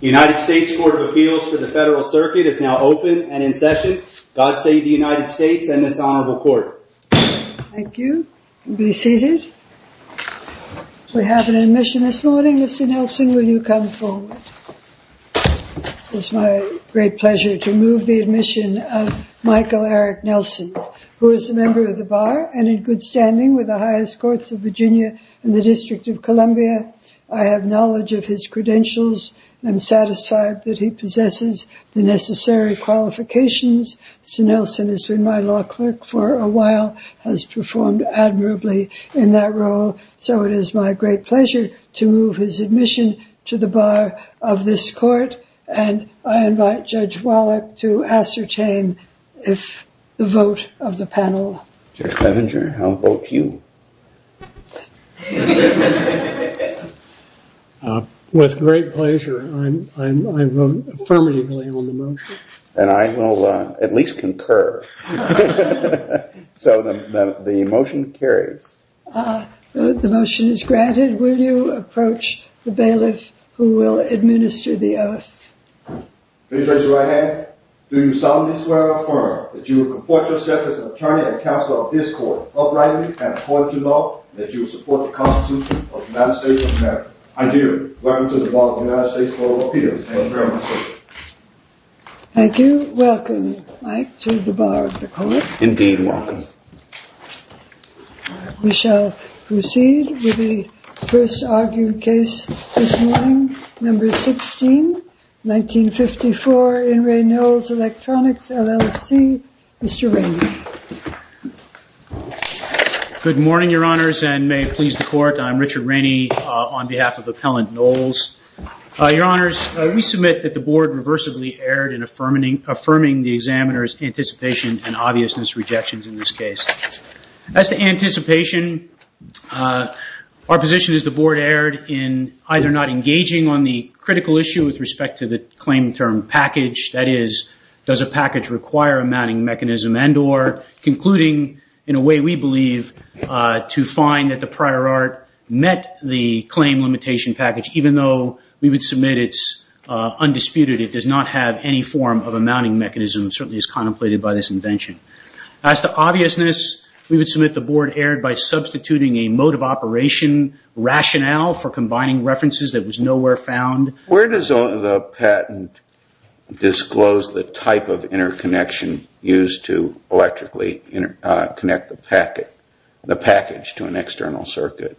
United States Court of Appeals for the Federal Circuit is now open and in session. God save the United States and this honorable court. Thank you. Be seated. We have an admission this morning. Mr. Nelson, will you come forward? It's my great pleasure to move the admission of Michael Eric Nelson, who is a member of the bar and in good standing with the highest courts of Virginia and the District of Columbia. I have knowledge of his credentials. I'm satisfied that he possesses the necessary qualifications. Mr. Nelson has been my law clerk for a while, has performed admirably in that role. So it is my great pleasure to move his admission to the bar of this court. And I invite Judge Wallach to ascertain if the vote of the panel. Judge Clevenger, I'll vote you. With great pleasure. I'm affirmatively on the motion. And I will at least concur. So the motion carries. The motion is granted. Will you approach the bailiff who will administer the oath? Please raise your right hand. Do you solemnly swear or affirm that you will comport yourself as an attorney and counsel of this court, uprightly and according to law, that you will support the constitution of the United States of America? I do. Welcome to the bar of the United States of America. Thank you very much. Thank you. Welcome, Mike, to the bar of the court. Indeed, welcome. We shall proceed with the first argued case this morning, number 16, 1954, In re Knowles Electronics, LLC. Mr. Rainey. Good morning, your honors, and may it please the court. I'm Richard Rainey on behalf of Appellant Knowles. Your honors, we submit that the board reversibly erred in affirming the examiner's anticipation and obviousness rejections in this case. As to anticipation, our position is the board erred in either not engaging on the critical issue with respect to the claim term package, that is, does a package require a mounting mechanism concluding, in a way we believe, to find that the prior art met the claim limitation package, even though we would submit it's undisputed. It does not have any form of a mounting mechanism, certainly as contemplated by this invention. As to obviousness, we would submit the board erred by substituting a mode of operation rationale for combining references that was nowhere found. Where does the patent disclose the type of interconnection used to electrically connect the package to an external circuit?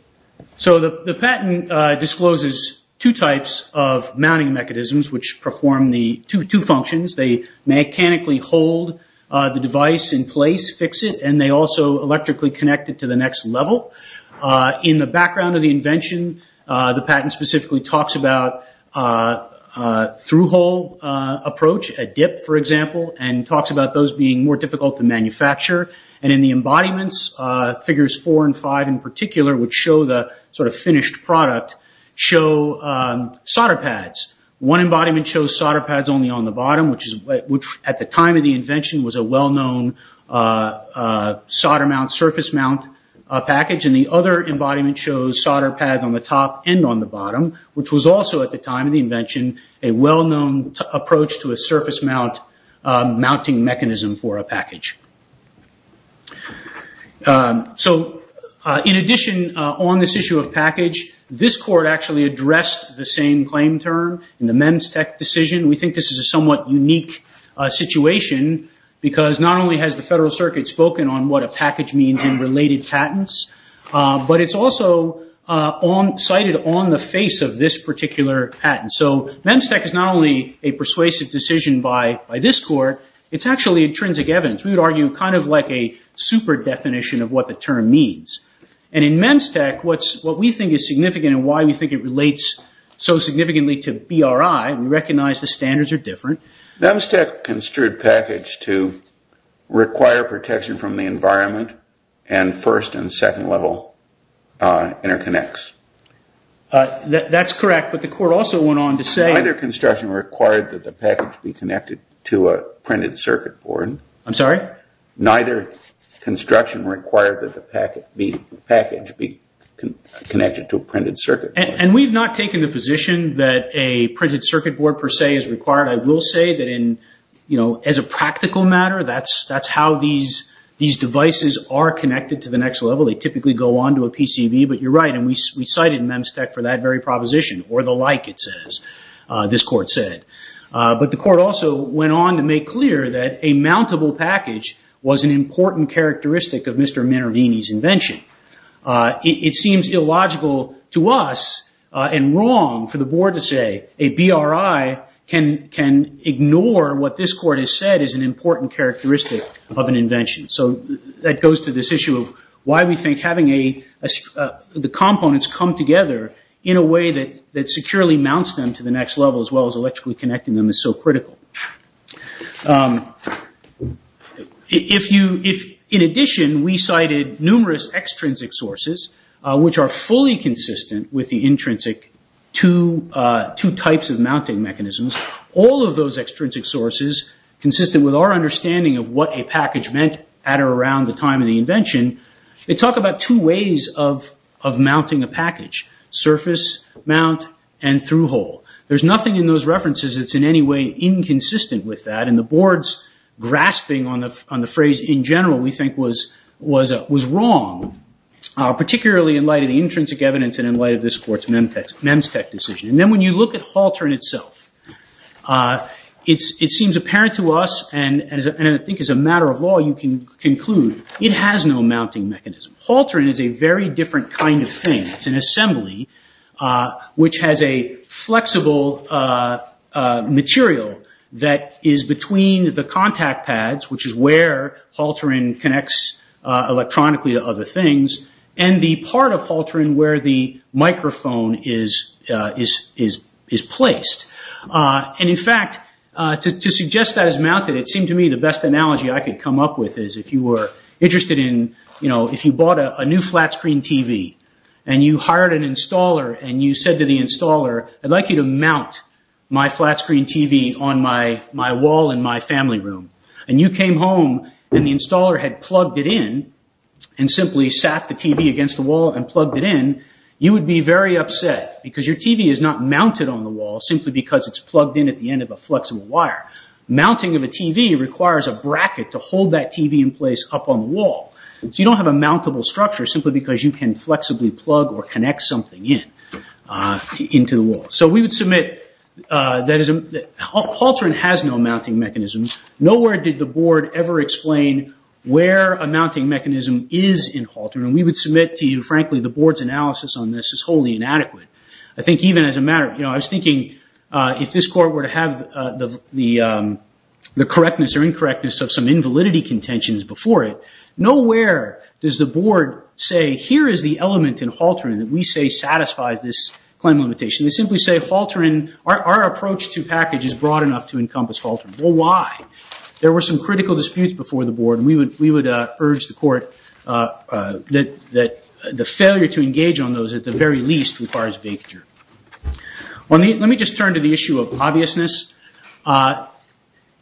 So the patent discloses two types of mounting mechanisms which perform the two functions. They mechanically hold the device in place, fix it, and they also electrically connect it to the next level. In the background of the invention, the patent specifically talks about through-hole approach, a dip for example, and talks about those being more difficult to manufacture. In the embodiments, figures four and five in particular, which show the finished product, show solder pads. One embodiment shows solder pads only on the bottom, which at the time of the invention was a well-known solder mount, surface mount package. The other embodiment shows solder pads on the top and on the bottom, which was also at the time of the invention a well-known approach to a surface mount mounting mechanism for a package. In addition, on this issue of package, this court actually addressed the same claim term in the MEMSTEC decision. We think this is a somewhat unique situation because not only has the Federal Circuit spoken on what a package means in related patents, but it's also cited on the face of this particular patent. So MEMSTEC is not only a persuasive decision by this court, it's actually intrinsic evidence. We would argue kind of like a super definition of what the term means. And in MEMSTEC, what we think is significant and why we think it relates so significantly to BRI, we recognize the standards are different. MEMSTEC construed package to require protection from the environment and first and second level interconnects. That's correct, but the court also went on to say… Neither construction required that the package be connected to a printed circuit board. I'm sorry? Neither construction required that the package be connected to a printed circuit board. And we've not taken the position that a printed circuit board per se is required. I will say that as a practical matter, that's how these devices are connected to the next level. They typically go on to a PCB, but you're right, and we cited MEMSTEC for that very proposition or the like, it says, this court said. But the court also went on to make clear that a mountable package was an important characteristic of Mr. Minervini's and wrong for the board to say a BRI can ignore what this court has said is an important characteristic of an invention. So that goes to this issue of why we think having the components come together in a way that securely mounts them to the next level as well as electrically connecting them is so critical. In addition, we cited numerous extrinsic sources which are fully inconsistent with the intrinsic two types of mounting mechanisms. All of those extrinsic sources, consistent with our understanding of what a package meant at or around the time of the invention, they talk about two ways of mounting a package, surface mount and through-hole. There's nothing in those references that's in any way inconsistent with that, and the board's grasping on the phrase in general we think was wrong, particularly in light of the intrinsic evidence and in light of this court's MEMSTEC decision. And then when you look at Haltern itself, it seems apparent to us, and I think as a matter of law you can conclude, it has no mounting mechanism. Haltern is a very different kind of thing. It's an assembly which has a flexible material that is between the contact pads, which is where Haltern connects electronically to other things, and the part of Haltern where the microphone is placed. And in fact, to suggest that it's mounted, it seemed to me the best analogy I could come up with is if you were interested in, you know, if you bought a new flat-screen TV and you hired an installer and you said to the installer, I'd like you to mount my flat-screen TV on my wall in my family room, and you came home and the installer had plugged it in and simply sat the TV against the wall and plugged it in, you would be very upset because your TV is not mounted on the wall simply because it's plugged in at the end of a flexible wire. Mounting of a TV requires a bracket to hold that TV in place up on the wall, so you don't have a mountable structure simply because you can into the wall. So we would submit that Haltern has no mounting mechanism. Nowhere did the board ever explain where a mounting mechanism is in Haltern, and we would submit to you, frankly, the board's analysis on this is wholly inadequate. I think even as a matter of, you know, I was thinking if this court were to have the correctness or incorrectness of some invalidity contentions before it, nowhere does the board say here is the element in Haltern that we say satisfies this claim limitation. They simply say Haltern, our approach to package is broad enough to encompass Haltern. Well, why? There were some critical disputes before the board, and we would urge the court that the failure to engage on those at the very least requires vacature. Let me just turn to the issue of obviousness.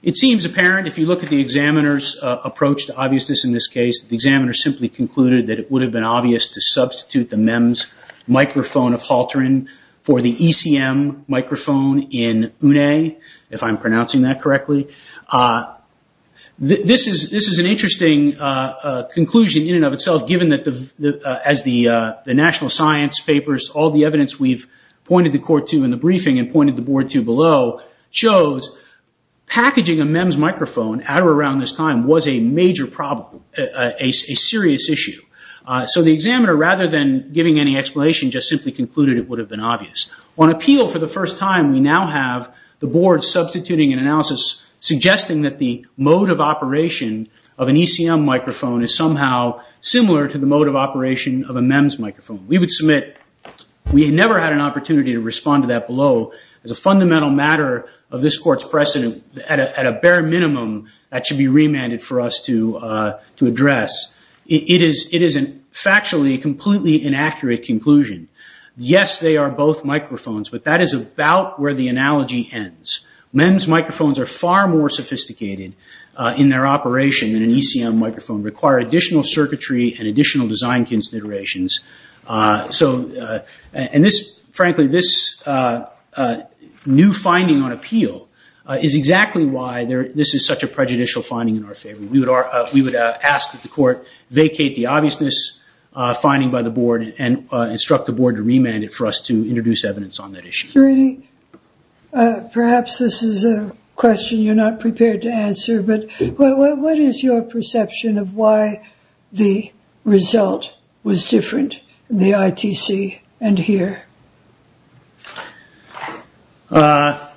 It seems apparent if you look at the examiner's approach to obviousness in this case, the examiner simply concluded that it would have been obvious to substitute the MEMS microphone of Haltern for the ECM microphone in UNE, if I'm pronouncing that correctly. This is an interesting conclusion in and of itself, given that as the national science papers, all the evidence we've pointed the court to in the briefing and pointed the board to below shows packaging a MEMS microphone at or around this time was a major problem, a serious issue. So the examiner, rather than giving any explanation, just simply concluded it would have been obvious. On appeal for the first time, we now have the board substituting an analysis suggesting that the mode of operation of an ECM microphone is somehow similar to the mode of operation of a MEMS microphone. We would submit, we had never had an opportunity to respond to that below as a fundamental matter of this minimum that should be remanded for us to address. It is factually a completely inaccurate conclusion. Yes, they are both microphones, but that is about where the analogy ends. MEMS microphones are far more sophisticated in their operation than an ECM microphone, require additional circuitry and additional design considerations. And this, frankly, this new finding on appeal is exactly why this is such a prejudicial finding in our favor. We would ask that the court vacate the obviousness finding by the board and instruct the board to remand it for us to introduce evidence on that issue. Perhaps this is a question you're not prepared to answer, but what is your perception of why the result was different in the ITC and here? The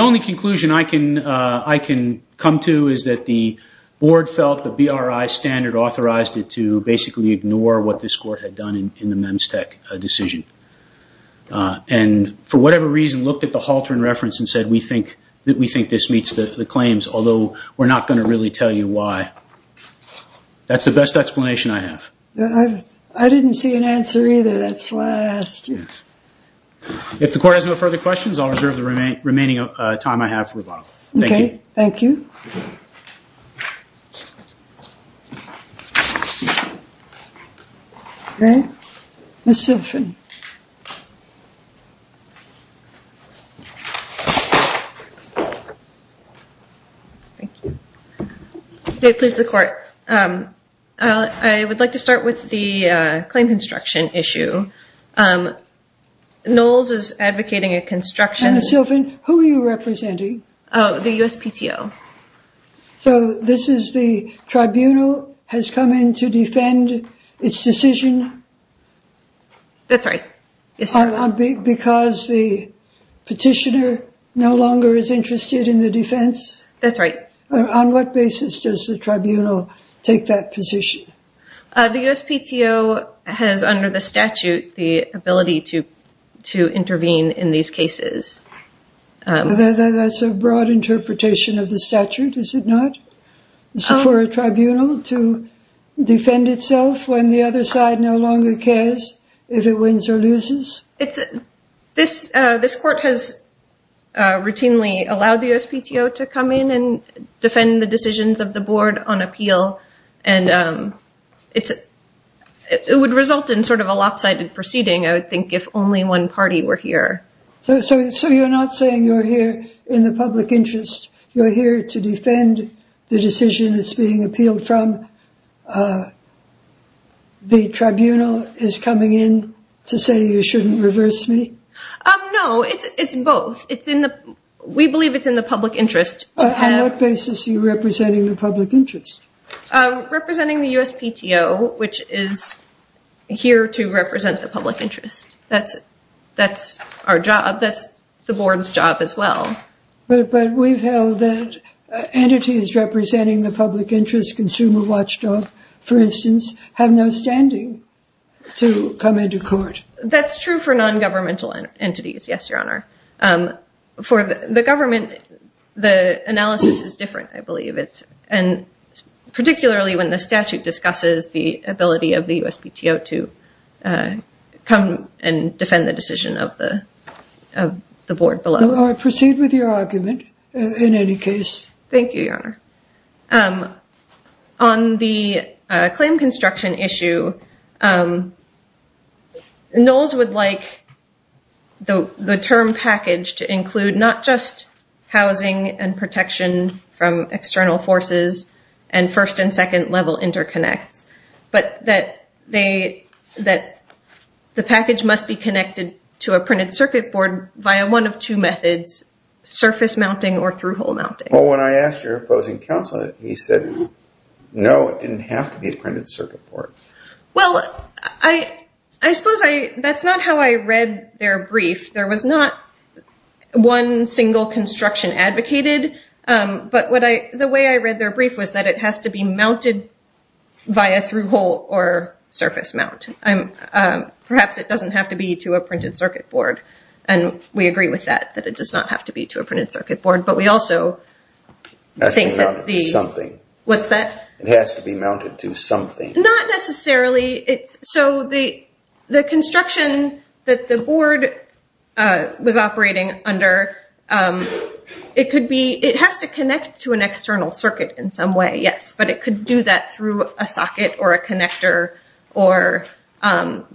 only conclusion I can come to is that the board felt the BRI standard authorized it to basically ignore what this court had done in the MEMSTEC decision. And for whatever reason looked at the Halter in reference and said we think this meets the claims, although we're not going to really tell you why. That's the best explanation I have. I didn't see an answer either. That's why I asked you. If the court has no further questions, I'll reserve the remaining time I have for rebuttal. Thank you. Thank you. Okay. Ms. Silfen. Thank you. Please, the court. I would like to start with the claim construction issue. NOLS is advocating a construction. Ms. Silfen, who are you representing? The USPTO. So this is the tribunal has come in to defend its decision? That's right. Because the petitioner no longer is interested in the defense? That's right. On what basis does the tribunal take that position? The USPTO has under the statute the ability to intervene in these cases. That's a broad interpretation of the statute, is it not? For a tribunal to defend itself when the other side no longer cares if it wins or loses? This court has routinely allowed the USPTO to come in and defend the decisions of the board on appeal, and it would result in sort of a lopsided proceeding, I would think, if only one party were here. So you're not saying you're here in the public interest? You're here to defend the decision that's being appealed from? The tribunal is coming in to say you shouldn't reverse me? No, it's both. We believe it's in the public interest. On what basis are you representing the public interest? Representing the USPTO, which is here to represent the public interest. That's our job. That's the board's job as well. But we've held that entities representing the public interest, consumer watchdog, for instance, have no standing to come into court. That's true for non-governmental entities, yes, Your Honor. For the government, the analysis is different, I believe. And particularly when the statute discusses the ability of the USPTO to come and defend the decision of the board below. I'll proceed with your argument in any case. Thank you, Your Honor. On the claim construction issue, Knowles would like the term package to include not just housing and protection from external forces and first and second level interconnects, but that the package must be connected to a printed circuit board via one of two methods, surface mounting or through-hole mounting. Well, when I asked your opposing counsel, he said, no, it didn't have to be a printed circuit board. Well, I suppose that's not how I read their brief. There was not one single construction advocated. But the way I read their brief was that it has to be mounted via through-hole or surface mount. Perhaps it doesn't have to be to a printed circuit board. And we agree with that, that it does not have to be to a printed circuit board. But we also think that the... Something. What's that? It has to be mounted to something. Not necessarily. It's so the construction that the board was operating under, it could be, it has to connect to an external circuit in some way, yes. But it could do that through a socket or a connector or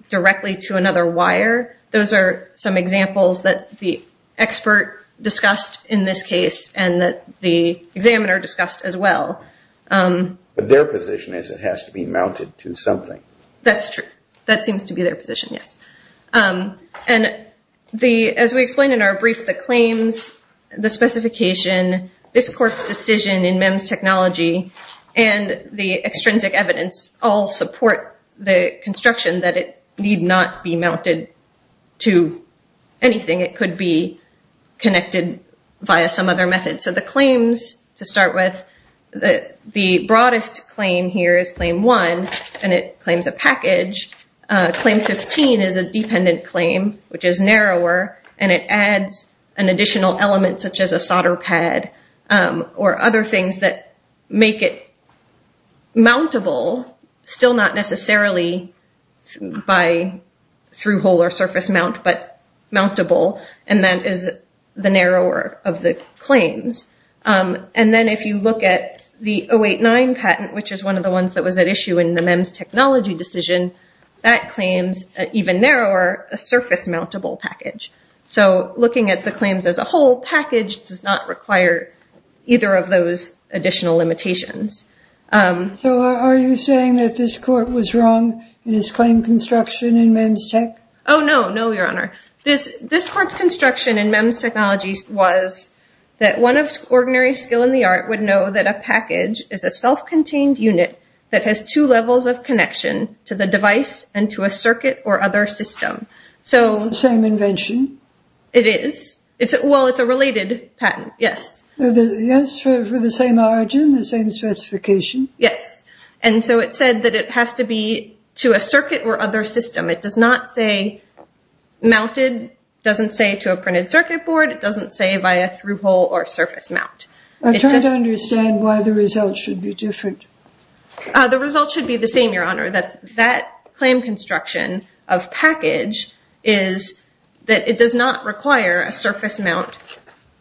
directly to another wire. Those are some examples that the expert discussed in this case and that the examiner discussed as well. But their position is it has to be mounted to something. That's true. That seems to be their position, yes. And as we explained in our brief, the claims, the specification, this court's decision in MEMS technology and the extrinsic evidence all support the construction that it need not be mounted to anything. It could be connected via some other method. So the claims to start with, the broadest claim here is claim one. And it claims a package. Claim 15 is a dependent claim, which is narrower. And it adds an additional element such as a solder pad or other things that make it mountable, still not necessarily through hole or surface mount, but mountable. And that is the narrower of the claims. And then if you look at the 089 patent, which is one of the ones that was at issue in the MEMS technology decision, that claims, even narrower, a surface mountable package. So looking at the claims as a whole, package does not require either of those additional limitations. So are you saying that this court was wrong in his claim construction in MEMS tech? Oh, no. No, Your Honor. This court's construction in MEMS technology was that one of ordinary skill in the art would know that a package is a self-contained unit that has two levels of connection to the device and to a circuit or other system. So it's the same invention. It is. Well, it's a related patent. Yes. Yes, for the same origin, the same specification. Yes. And so it said that it has to be to a circuit or other system. It does not say mounted, doesn't say to a printed circuit board. It doesn't say via through hole or surface mount. I'm trying to understand why the results should be different. The results should be the same, Your Honor. That claim construction of package is that it does not require a surface mount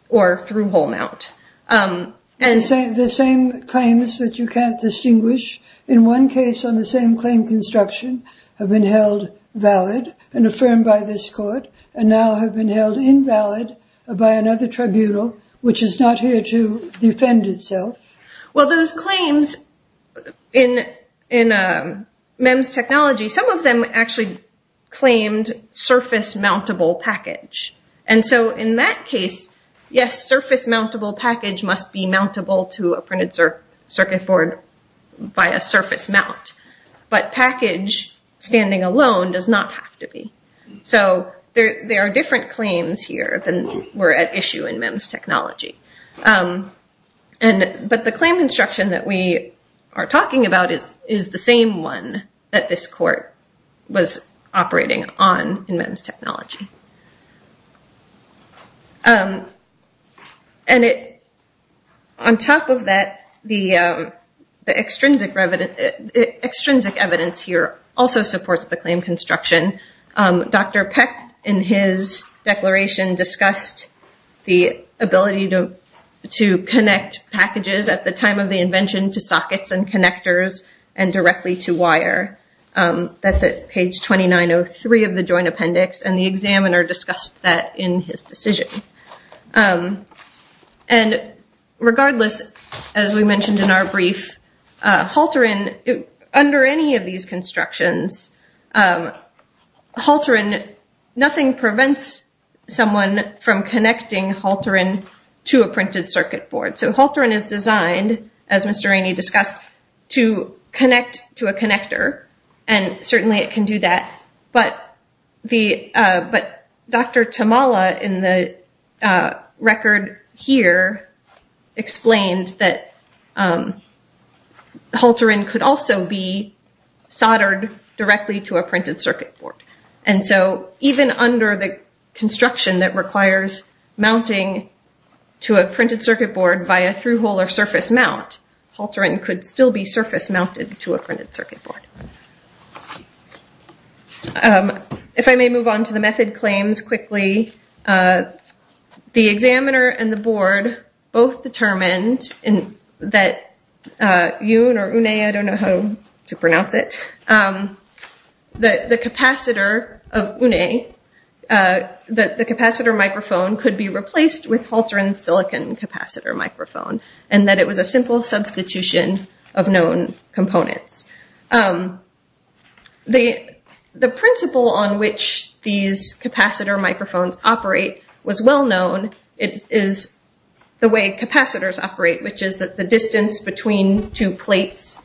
or through hole mount. The same claims that you can't distinguish in one case on the same claim construction have been held valid and affirmed by this court and now have been held invalid by another tribunal, which is not here to defend itself. Well, those claims in MEMS technology, some of them actually claimed surface mountable package. And so in that case, yes, surface mountable package must be mountable to a printed circuit board by a surface mount. But package standing alone does not have to be. So there are different claims here than were at issue in MEMS technology. And but the claim construction that we are talking about is the same one that this court was operating on in MEMS technology. And on top of that, the extrinsic evidence here also supports the claim construction. Dr. Peck, in his declaration, discussed the ability to connect packages at the time of the invention to sockets and connectors and directly to wire. That's at page 2903 of the Joint Appendix. And the examiner discussed that in his decision. And regardless, as we mentioned in our brief, Halteran, under any of these constructions, Halteran, nothing prevents someone from connecting Halteran to a printed circuit board. So Halteran is designed, as Mr. Rainey discussed, to connect to a connector. And certainly it can do that. But Dr. Tamala in the record here explained that Halteran could also be And so even under the construction that requires mounting to a printed circuit board via through-hole or surface mount, Halteran could still be surface mounted to a printed circuit board. If I may move on to the method claims quickly, the examiner and the board both determined that YUN or UNE, I don't know how to pronounce it, that the capacitor of UNE, that the capacitor microphone could be replaced with Halteran's silicon capacitor microphone. And that it was a simple substitution of known components. The principle on which these capacitor microphones operate was well known. It is the way capacitors operate, which is that the distance between two plates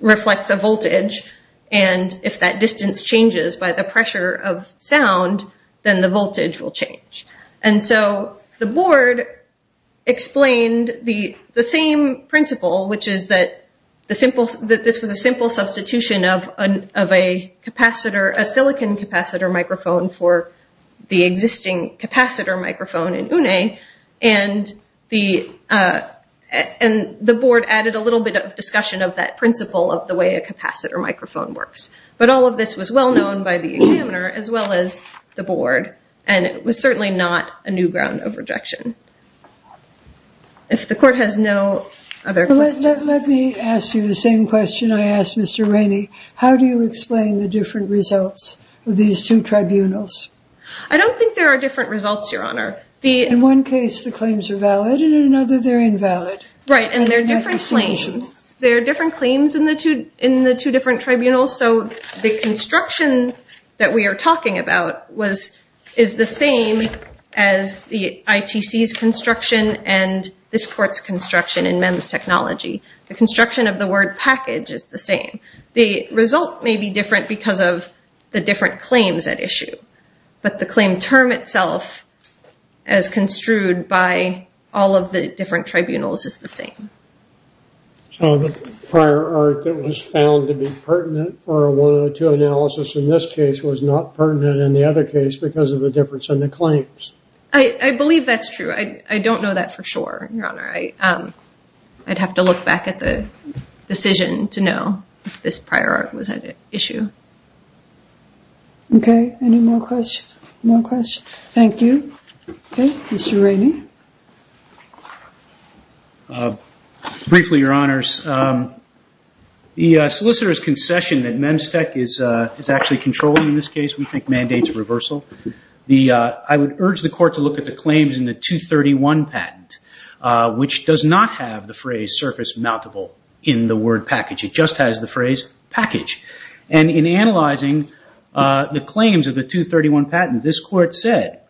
reflects a voltage. And if that distance changes by the pressure of sound, then the voltage will change. And so the board explained the same principle, which is that this was a simple substitution of a capacitor, a silicon capacitor microphone for the existing capacitor microphone in UNE. And the board added a little bit of discussion of that principle of the way a capacitor microphone works. But all of this was well known by the examiner as well as the board. And it was certainly not a new ground of rejection. If the court has no other questions. Let me ask you the same question I asked Mr. Rainey. How do you explain the different results of these two tribunals? I don't think there are different results, Your Honor. In one case, the claims are valid. In another, they're invalid. Right. And they're different claims. There are different claims in the two different tribunals. So the construction that we are talking about is the same as the ITC's construction and this court's construction in MEMS technology. The construction of the word package is the same. The result may be different because of the different claims at issue. But the claim term itself, as construed by all of the different tribunals, is the same. So the prior art that was found to be pertinent for a 102 analysis in this case was not pertinent in the other case because of the difference in the claims. I believe that's true. I don't know that for sure. Your Honor, I'd have to look back at the decision to know if this prior art was at issue. Okay. Any more questions? No questions. Thank you. Okay. Mr. Rainey. Briefly, Your Honors. The solicitor's concession that MEMS tech is actually controlling in this case, we think mandates reversal. I would urge the court to look at the claims in the 231 patent. Which does not have the phrase surface-mountable in the word package. It just has the phrase package. And in analyzing the claims of the 231 patent, this court said,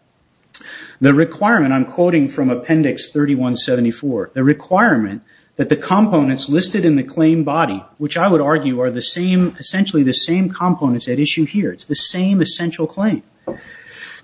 the requirement, I'm quoting from Appendix 3174, the requirement that the components listed in the claim body, which I would argue are essentially the same components at issue here, it's the same essential claim,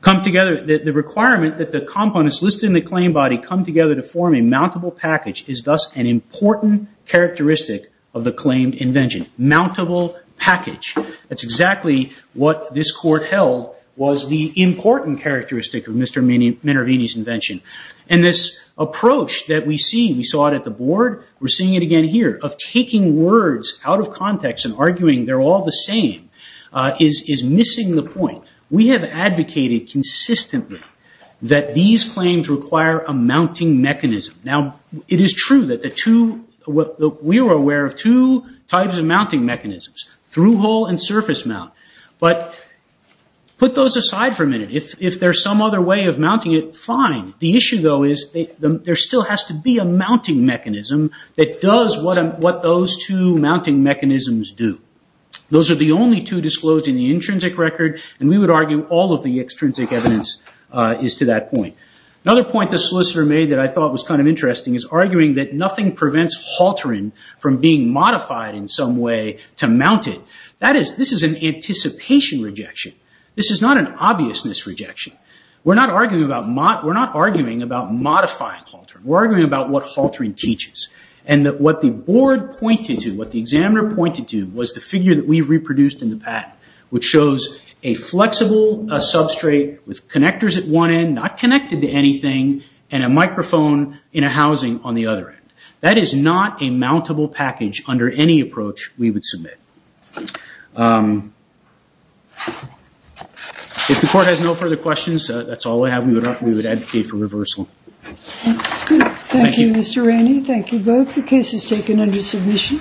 come together, the requirement that the components listed in the claim body come together to form a mountable package is thus an important characteristic of the claimed invention. Mountable package. That's exactly what this court held was the important characteristic of Mr. Minervini's invention. And this approach that we see, we saw it at the board, we're seeing it again here, of taking words out of context and arguing they're all the same is missing the point. We have advocated consistently that these claims require a mounting mechanism. Now, it is true that the two, we were aware of two types of mounting mechanisms, through-hole and surface-mount. But put those aside for a minute. If there's some other way of mounting it, fine. The issue though is there still has to be a mounting mechanism that does what those two mounting mechanisms do. Those are the only two disclosed in the intrinsic record and we would argue all of the extrinsic evidence is to that point. Another point the solicitor made that I thought was kind of interesting is arguing that nothing prevents halterin from being modified in some way to mount it. That is, this is an anticipation rejection. This is not an obviousness rejection. We're not arguing about modifying halterin. We're arguing about what halterin teaches. And what the board pointed to, what the examiner pointed to was the figure that we reproduced in the patent, which shows a flexible substrate with connectors at one end, not connected to anything, and a microphone in a housing on the other end. That is not a mountable package under any approach we would submit. If the court has no further questions, that's all I have. We would advocate for reversal. Thank you, Mr. Ranney. Thank you both. The case is taken under submission.